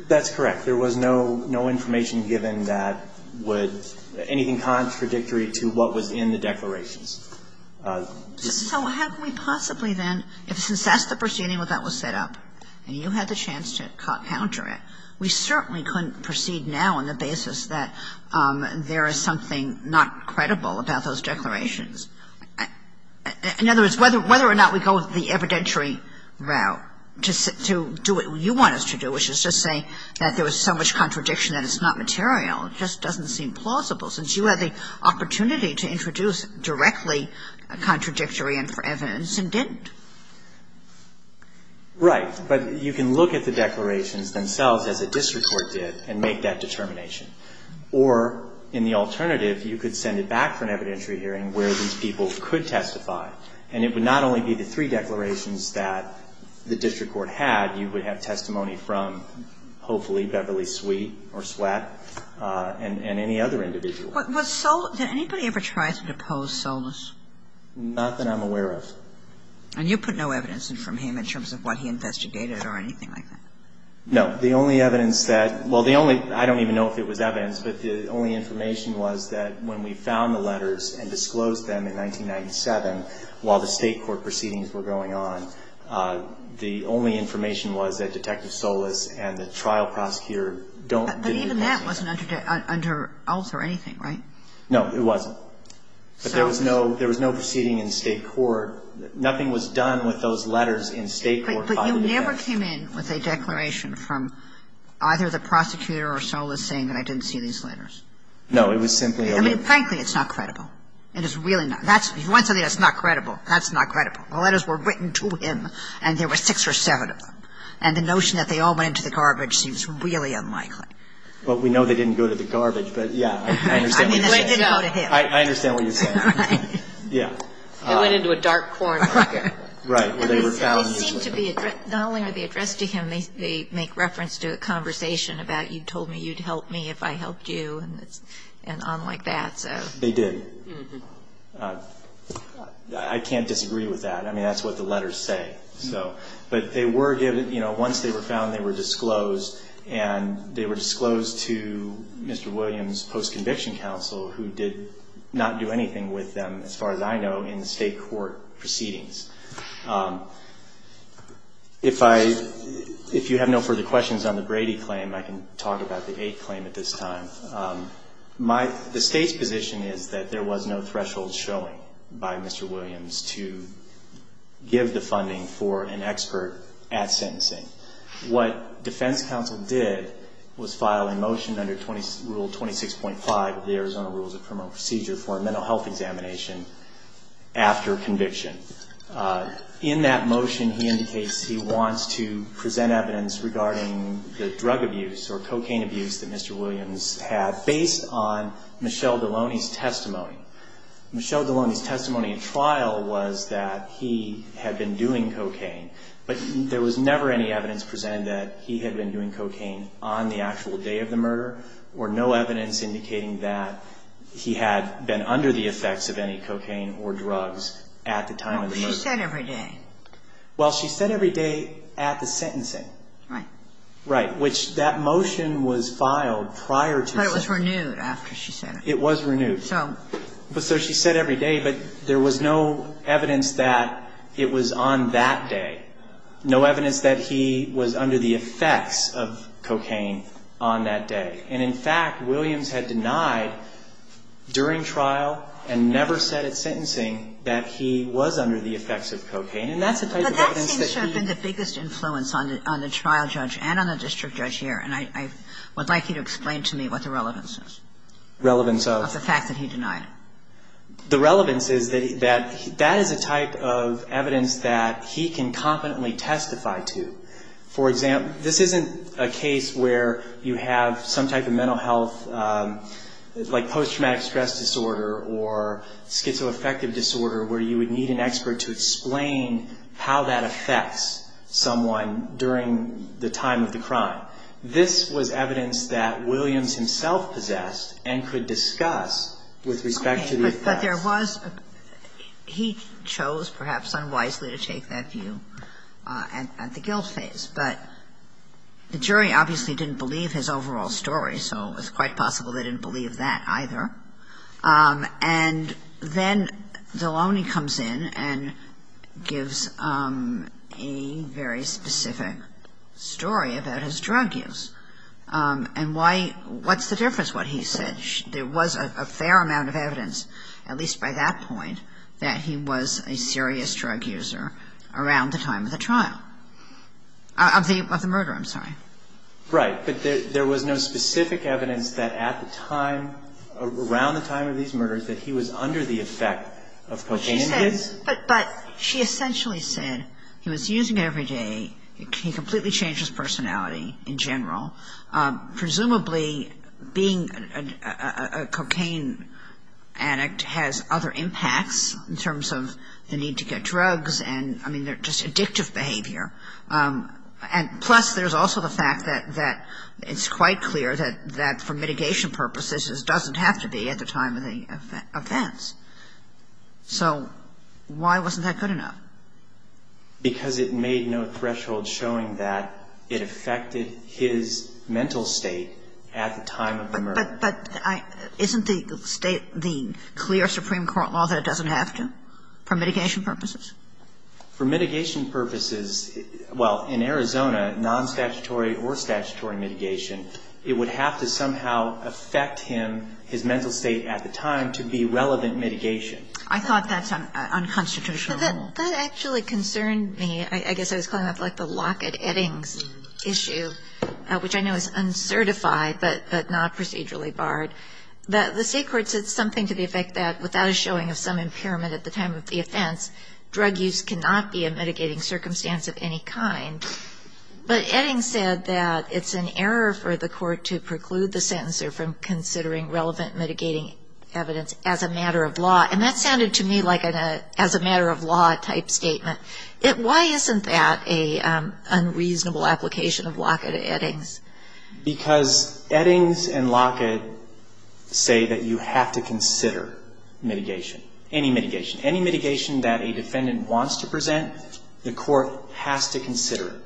That's correct. There was no information given that would – anything contradictory to what was in the declarations. So how can we possibly then, since that's the proceeding that was set up and you had the chance to counter it, we certainly couldn't proceed now on the basis that there is something not credible about those declarations? In other words, whether or not we go the evidentiary route to do what you want us to do, which is just say that there was so much contradiction that it's not material, just doesn't seem plausible since you had the opportunity to introduce directly contradictory evidence and didn't. Right. But you can look at the declarations themselves, as a district court did, and make that determination. Or, in the alternative, you could send it back for an evidentiary hearing where these people could testify. And it would not only be the three declarations that the district court had. You would have testimony from, hopefully, Beverly Sweet or Sweatt and any other individual. Was Solis – did anybody ever try to depose Solis? Not that I'm aware of. And you put no evidence in from him in terms of what he investigated or anything like that? No. The only evidence that – well, the only – I don't even know if it was evidence, but the only information was that when we found the letters and disclosed them in 1997 while the State court proceedings were going on, the only information was that Detective Solis and the trial prosecutor don't – But even that wasn't under oath or anything, right? No, it wasn't. But there was no – there was no proceeding in State court. Nothing was done with those letters in State court. But you never came in with a declaration from either the prosecutor or Solis saying that I didn't see these letters? No. It was simply – I mean, frankly, it's not credible. It is really not. That's – if you want something that's not credible, that's not credible. The letters were written to him, and there were six or seven of them. And the notion that they all went into the garbage seems really unlikely. Well, we know they didn't go to the garbage, but, yeah, I understand what you're saying. Right. Yeah. They went into a dark corner. Right. Well, they were found – They seem to be – not only are they addressed to him, they make reference to a conversation about you told me you'd help me if I helped you and on like that. So – They did. Mm-hmm. I can't disagree with that. I mean, that's what the letters say. So – but they were given – you know, once they were found, they were disclosed, and they were disclosed to Mr. Williams' post-conviction counsel, who did not do anything with them, as far as I know, in the state court proceedings. If I – if you have no further questions on the Brady claim, I can talk about the Eighth claim at this time. My – the state's position is that there was no threshold showing by Mr. Williams to give the funding for an expert at sentencing. What defense counsel did was file a motion under Rule 26.5 of the Arizona Rules of Criminal Procedure for a mental health examination after conviction. In that motion, he indicates he wants to present evidence regarding the drug abuse or cocaine abuse that Mr. Williams had based on Michelle Deloney's testimony. Michelle Deloney's testimony at trial was that he had been doing cocaine, but there was never any evidence presented that he had been doing cocaine on the actual day of the murder, or no evidence indicating that he had been under the effects of any cocaine or drugs at the time of the murder. Oh, but she said every day. Well, she said every day at the sentencing. Right. Right. Which that motion was filed prior to the sentencing. But it was renewed after she said it. It was renewed. So – No evidence that it was on that day. No evidence that he was under the effects of cocaine on that day. And in fact, Williams had denied during trial and never said at sentencing that he was under the effects of cocaine. And that's the type of evidence that he – But that seems to have been the biggest influence on the trial judge and on the district judge here. And I would like you to explain to me what the relevance is. Relevance of? Of the fact that he denied. The relevance is that that is a type of evidence that he can competently testify to. For example, this isn't a case where you have some type of mental health, like post-traumatic stress disorder or schizoaffective disorder, where you would need an expert to explain how that affects someone during the time of the crime. This was evidence that Williams himself possessed and could discuss with respect to the effects. But there was – he chose, perhaps unwisely, to take that view at the guilt phase. But the jury obviously didn't believe his overall story, so it's quite possible they didn't believe that either. And then Deloney comes in and gives a very specific story about his drug use. And why – what's the difference, what he said? There was a fair amount of evidence, at least by that point, that he was a serious drug user around the time of the trial – of the murder, I'm sorry. Right. But there was no specific evidence that at the time, around the time of these murders, that he was under the effect of cocaine use. But she essentially said he was using it every day. He completely changed his personality in general. Presumably, being a cocaine addict has other impacts in terms of the need to get drugs and, I mean, just addictive behavior. And plus, there's also the fact that it's quite clear that for mitigation purposes, this doesn't have to be at the time of the offense. So why wasn't that good enough? Because it made no threshold showing that it affected his mental state at the time of the murder. But isn't the state – the clear Supreme Court law that it doesn't have to, for mitigation purposes? For mitigation purposes, well, in Arizona, non-statutory or statutory mitigation, it would have to somehow affect him, his mental state at the time, to be relevant mitigation. I thought that's unconstitutional. But that actually concerned me. I guess I was calling that like the Lockett-Eddings issue, which I know is uncertified but not procedurally barred. The state court said something to the effect that without a showing of some drug use cannot be a mitigating circumstance of any kind. But Eddings said that it's an error for the court to preclude the sentencer from considering relevant mitigating evidence as a matter of law. And that sounded to me like an as a matter of law type statement. Why isn't that an unreasonable application of Lockett-Eddings? Because Eddings and Lockett say that you have to consider mitigation, any mitigation. Any mitigation that a defendant wants to present, the court has to consider it.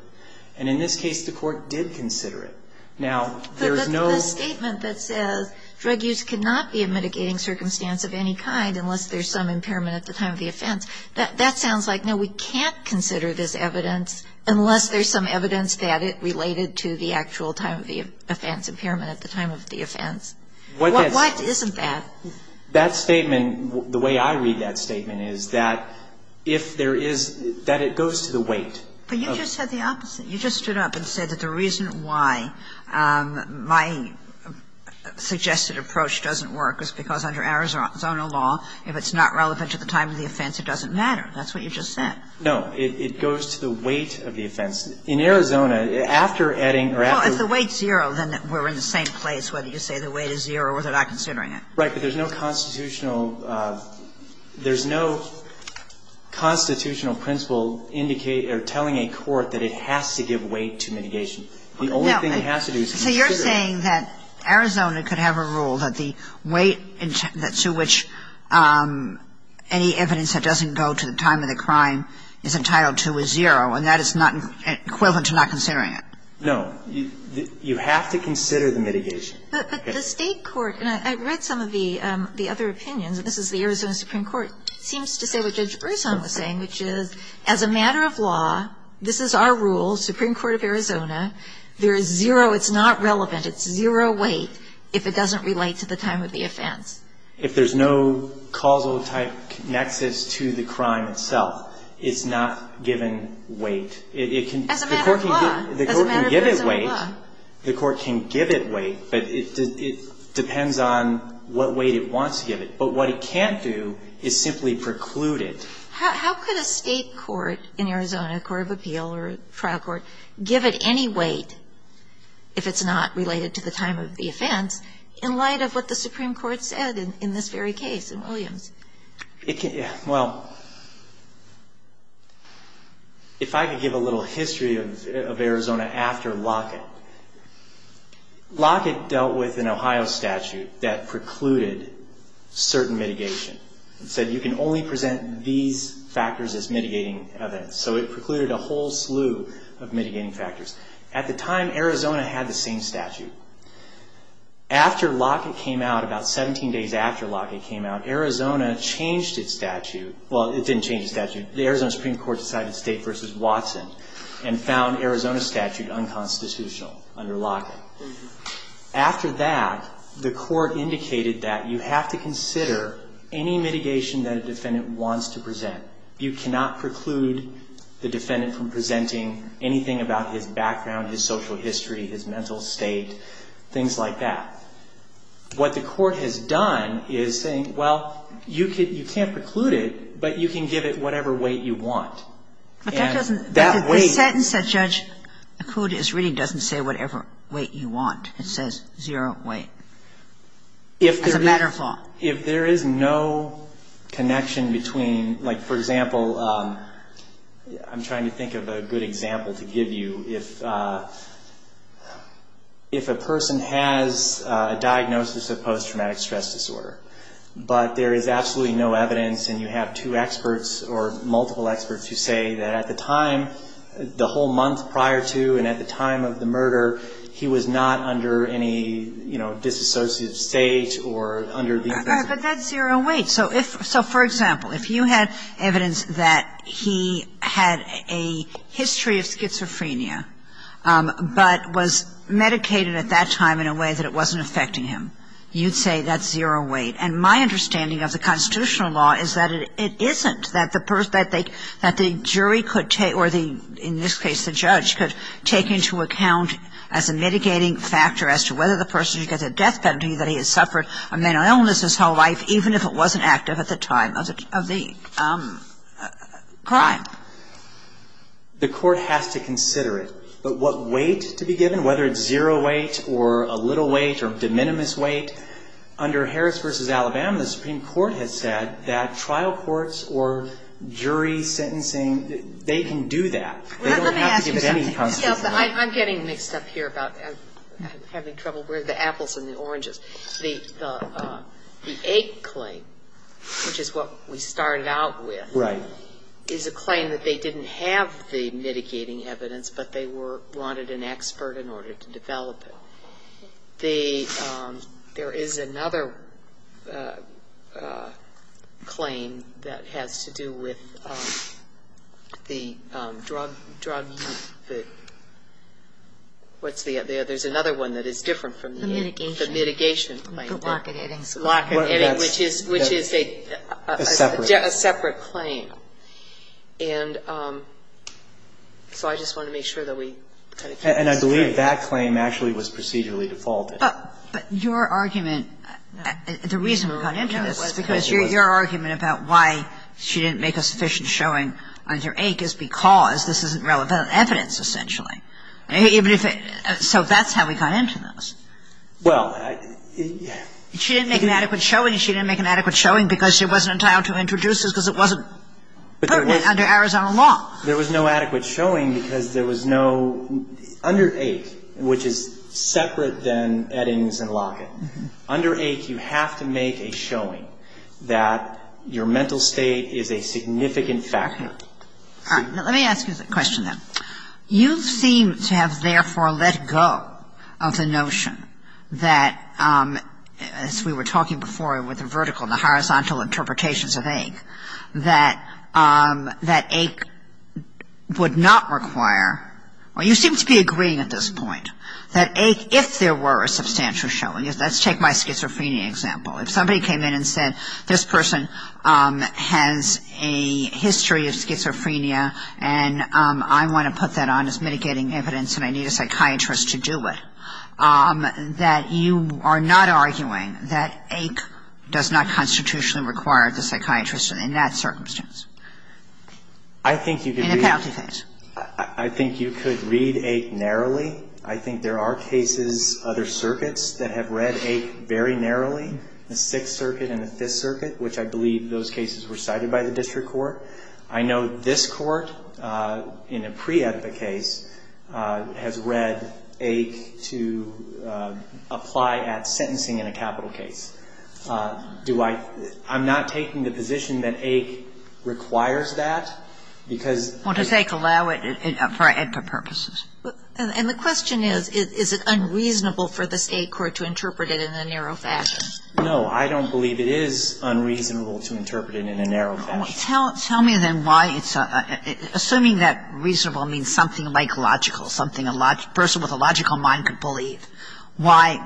And in this case, the court did consider it. Now, there's no ---- But the statement that says drug use cannot be a mitigating circumstance of any kind unless there's some impairment at the time of the offense, that sounds like, no, we can't consider this evidence unless there's some evidence that it related to the actual time of the offense, impairment at the time of the offense. Why isn't that? That statement, the way I read that statement, is that if there is ---- that it goes to the weight. But you just said the opposite. You just stood up and said that the reason why my suggested approach doesn't work is because under Arizona law, if it's not relevant to the time of the offense, it doesn't matter. That's what you just said. No. It goes to the weight of the offense. In Arizona, after Eddings or after ---- Well, if the weight's zero, then we're in the same place, whether you say the weight is zero or they're not considering it. Right. But there's no constitutional ---- there's no constitutional principle indicating or telling a court that it has to give weight to mitigation. The only thing it has to do is consider it. So you're saying that Arizona could have a rule that the weight to which any evidence that doesn't go to the time of the crime is entitled to is zero, and that is not equivalent No. You have to consider the mitigation. But the State court, and I read some of the other opinions, and this is the Arizona Supreme Court, seems to say what Judge Bresson was saying, which is as a matter of law, this is our rule, Supreme Court of Arizona, there is zero, it's not relevant, it's zero weight if it doesn't relate to the time of the offense. If there's no causal type nexus to the crime itself, it's not given weight. It can ---- As a matter of law. As a matter of Arizona law. The court can give it weight, but it depends on what weight it wants to give it. But what it can't do is simply preclude it. How could a State court in Arizona, a court of appeal or a trial court, give it any weight if it's not related to the time of the offense in light of what the Supreme Court said in this very case in Williams? Well, if I could give a little history of Arizona after Lockett. Lockett dealt with an Ohio statute that precluded certain mitigation. It said you can only present these factors as mitigating evidence. So it precluded a whole slew of mitigating factors. At the time, Arizona had the same statute. After Lockett came out, about 17 days after Lockett came out, Arizona changed its statute. Well, it didn't change its statute. The Arizona Supreme Court decided State v. Watson and found Arizona's statute unconstitutional under Lockett. After that, the court indicated that you have to consider any mitigation that a defendant wants to present. You cannot preclude the defendant from presenting anything about his background, his social history, his mental state, things like that. What the court has done is saying, well, you can't preclude it, but you can give it whatever weight you want. But that doesn't... That weight... The sentence that Judge Akud is reading doesn't say whatever weight you want. It says zero weight as a matter of law. If there is no connection between, like, for example, I'm trying to think of a good example to give you. If a person has a diagnosis of post-traumatic stress disorder, but there is absolutely no evidence and you have two experts or multiple experts who say that at the time, the whole month prior to and at the time of the murder, he was not under any, you know, disassociative state or under... But that's zero weight. So if, so for example, if you had evidence that he had a history of schizophrenia, but was medicated at that time in a way that it wasn't affecting him, you'd say that's zero weight. And my understanding of the constitutional law is that it isn't, that the jury could take or the, in this case, the judge could take into account as a mitigating factor as to whether the person gets a death penalty that he has suffered a mental illness his whole life, even if it wasn't active at the time of the crime. The court has to consider it. But what weight to be given, whether it's zero weight or a little weight or de minimis weight, under Harris v. Alabama, the Supreme Court has said that trial courts or jury sentencing, they can do that. They don't have to give any constitutional... I'm getting mixed up here about having trouble with the apples and the oranges. The AIC claim, which is what we started out with... Right. ...is a claim that they didn't have the mitigating evidence, but they wanted an expert in order to develop it. So there is another claim that has to do with the drug, what's the other? There's another one that is different from the... The mitigation. The mitigation claim. The blockading. Blockading, which is a separate claim. A separate claim. And so I just wanted to make sure that we kind of... And I believe that claim actually was procedurally defaulted. But your argument, the reason we got into this, is because your argument about why she didn't make a sufficient showing under AIC is because this isn't relevant evidence, essentially. Even if it so that's how we got into this. Well, I... She didn't make an adequate showing. She didn't make an adequate showing because she wasn't entitled to introduce this because it wasn't pertinent under Arizona law. There was no adequate showing because there was no... Under AIC, which is separate than Eddings and Lockett, under AIC you have to make a showing that your mental state is a significant factor. All right. Let me ask you a question, then. You seem to have therefore let go of the notion that, as we were talking before with the vertical and the horizontal interpretations of AIC, that AIC would not require... Well, you seem to be agreeing at this point that AIC, if there were a substantial showing... Let's take my schizophrenia example. If somebody came in and said, this person has a history of schizophrenia and I want to put that on as mitigating evidence and I need a psychiatrist to do it, that you are not arguing that AIC does not constitutionally require the psychiatrist in that circumstance? In a penalty case? I think you could read AIC narrowly. I think there are cases, other circuits, that have read AIC very narrowly, the Sixth Circuit and the Fifth Circuit, which I believe those cases were cited by the district court. I know this court in a pre-EDPA case has read AIC to apply at sentencing in a capital case. Do I – I'm not taking the position that AIC requires that because... Well, does AIC allow it for EDPA purposes? And the question is, is it unreasonable for this AIC court to interpret it in a narrow fashion? No, I don't believe it is unreasonable to interpret it in a narrow fashion. Tell me then why it's – assuming that reasonable means something like logical, something a person with a logical mind could believe, why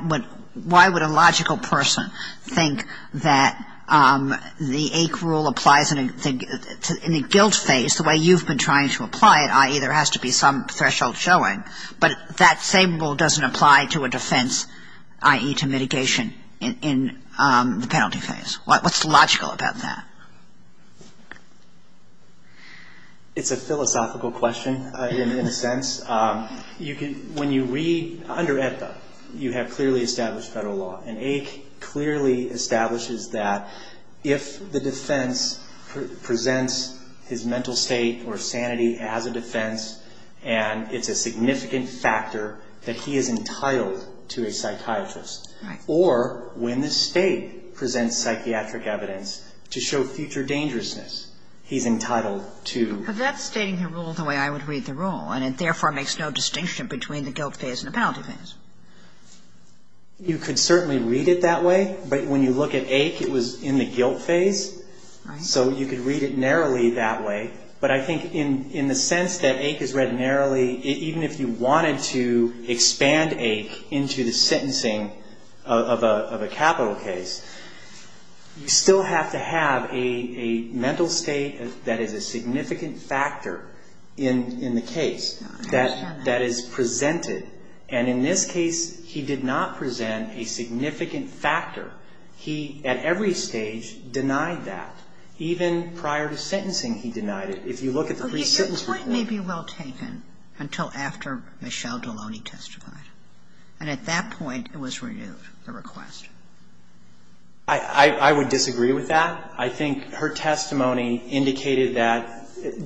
would a logical person think that the AIC rule applies in a guilt phase the way you've been trying to apply it, i.e., there has to be some threshold showing, but that same rule doesn't apply to a defense, i.e., to mitigation in the penalty phase? What's logical about that? It's a philosophical question, in a sense. You can – when you read – under EDPA, you have clearly established federal law, and AIC clearly establishes that if the defense presents his mental state or sanity as a defense, and it's a significant factor that he is entitled to a psychiatrist, or when the State presents psychiatric evidence to show future dangerousness, he's entitled to – But that's stating the rule the way I would read the rule, and it therefore makes no distinction between the guilt phase and the penalty phase. You could certainly read it that way, but when you look at AIC, it was in the guilt phase, so you could read it narrowly that way. But I think in the sense that AIC is read narrowly, even if you wanted to expand AIC into the sentencing of a capital case, you still have to have a mental state that is a significant factor in the case that is presented. And in this case, he did not present a significant factor. He, at every stage, denied that. Even prior to sentencing, he denied it. But it may be well taken until after Michelle Deloney testified. And at that point, it was renewed, the request. I would disagree with that. I think her testimony indicated that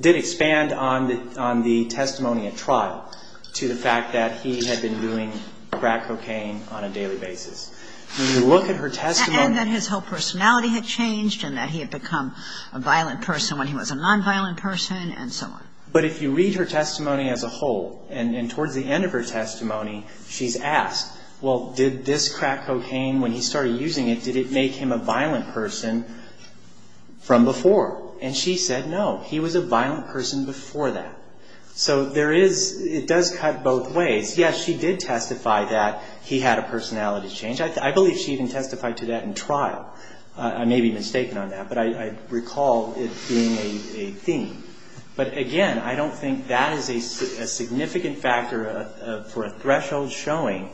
– did expand on the testimony at trial to the fact that he had been doing crack cocaine on a daily basis. When you look at her testimony – And that his whole personality had changed and that he had become a violent person when he was a nonviolent person and so on. But if you read her testimony as a whole, and towards the end of her testimony, she's asked, well, did this crack cocaine, when he started using it, did it make him a violent person from before? And she said no. He was a violent person before that. So there is – it does cut both ways. Yes, she did testify that he had a personality change. I believe she even testified to that in trial. I may be mistaken on that, but I recall it being a theme. But, again, I don't think that is a significant factor for a threshold showing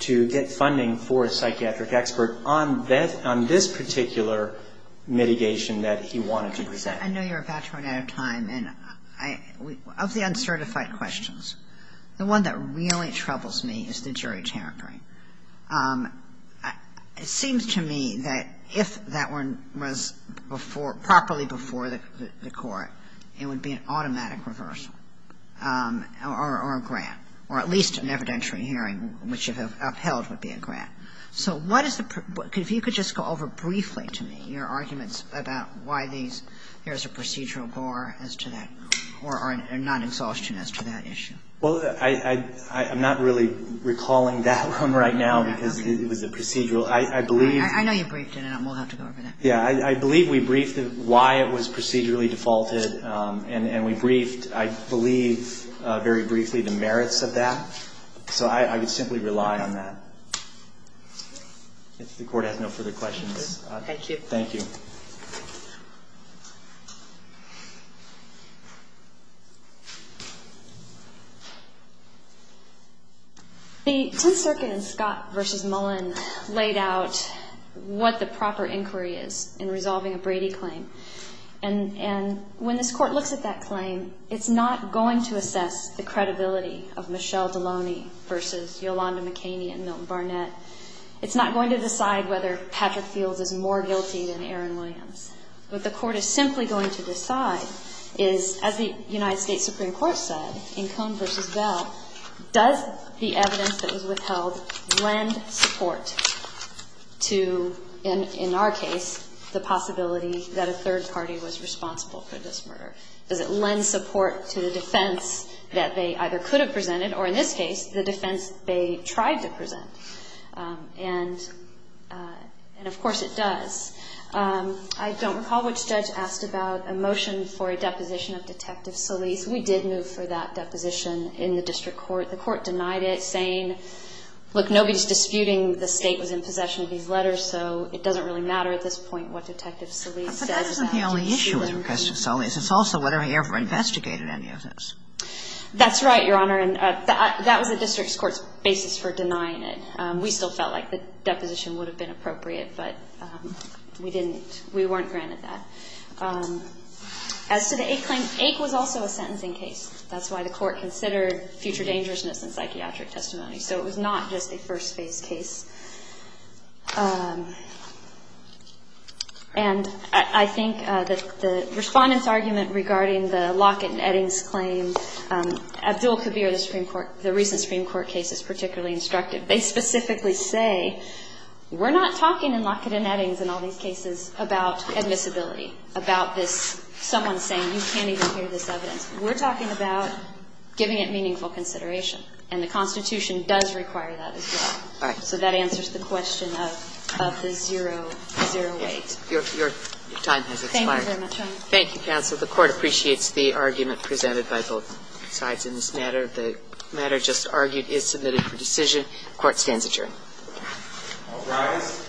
to get funding for a psychiatric expert on this particular mitigation that he wanted to present. I know you're a bachelor and out of time. And of the uncertified questions, the one that really troubles me is the jury territory. It seems to me that if that one was before – properly before the court, it would be an automatic reversal or a grant, or at least an evidentiary hearing, which if upheld would be a grant. So what is the – if you could just go over briefly to me your arguments about why there is a procedural bar as to that or a non-exhaustion as to that issue. Well, I'm not really recalling that one right now because it was a procedural. I believe – I know you briefed it. We'll have to go over that. Yeah. I believe we briefed why it was procedurally defaulted. And we briefed, I believe, very briefly the merits of that. So I would simply rely on that. If the Court has no further questions. Thank you. Thank you. The Tenth Circuit in Scott v. Mullen laid out what the proper inquiry is in resolving a Brady claim. And when this Court looks at that claim, it's not going to assess the credibility of Michelle Deloney v. Yolanda McKinney and Milton Barnett. It's not going to decide whether Patrick Fields is more guilty than Aaron Williams. What the Court is simply going to decide is, as the United States Supreme Court said, in Cohn v. Bell, does the evidence that was withheld lend support to, in our case, the possibility that a third party was responsible for this murder? Does it lend support to the defense that they either could have presented or, in this case, the defense they tried to present? And, of course, it does. I don't recall which judge asked about a motion for a deposition of Detective Solis. We did move for that deposition in the district court. The Court denied it, saying, look, nobody's disputing the State was in possession of these letters, so it doesn't really matter at this point what Detective Solis says. But that isn't the only issue with Request to Solis. It's also whether he ever investigated any of this. That's right, Your Honor. And that was the district court's basis for denying it. We still felt like the deposition would have been appropriate, but we didn't. We weren't granted that. As to the Ake claim, Ake was also a sentencing case. That's why the Court considered future dangerousness in psychiatric testimony. So it was not just a first-phase case. And I think the Respondent's argument regarding the Lockett and Eddings claim, Abdul Kabir, the Supreme Court, the recent Supreme Court case, is particularly instructive. They specifically say, we're not talking in Lockett and Eddings and all these cases about admissibility, about this someone saying you can't even hear this evidence. We're talking about giving it meaningful consideration. And the Constitution does require that as well. All right. So that answers the question of the zero weight. Your time has expired. Thank you very much, Your Honor. Thank you, counsel. The Court appreciates the argument presented by both sides in this matter. The matter just argued is submitted for decision. The Court stands adjourned. All rise. Thank you.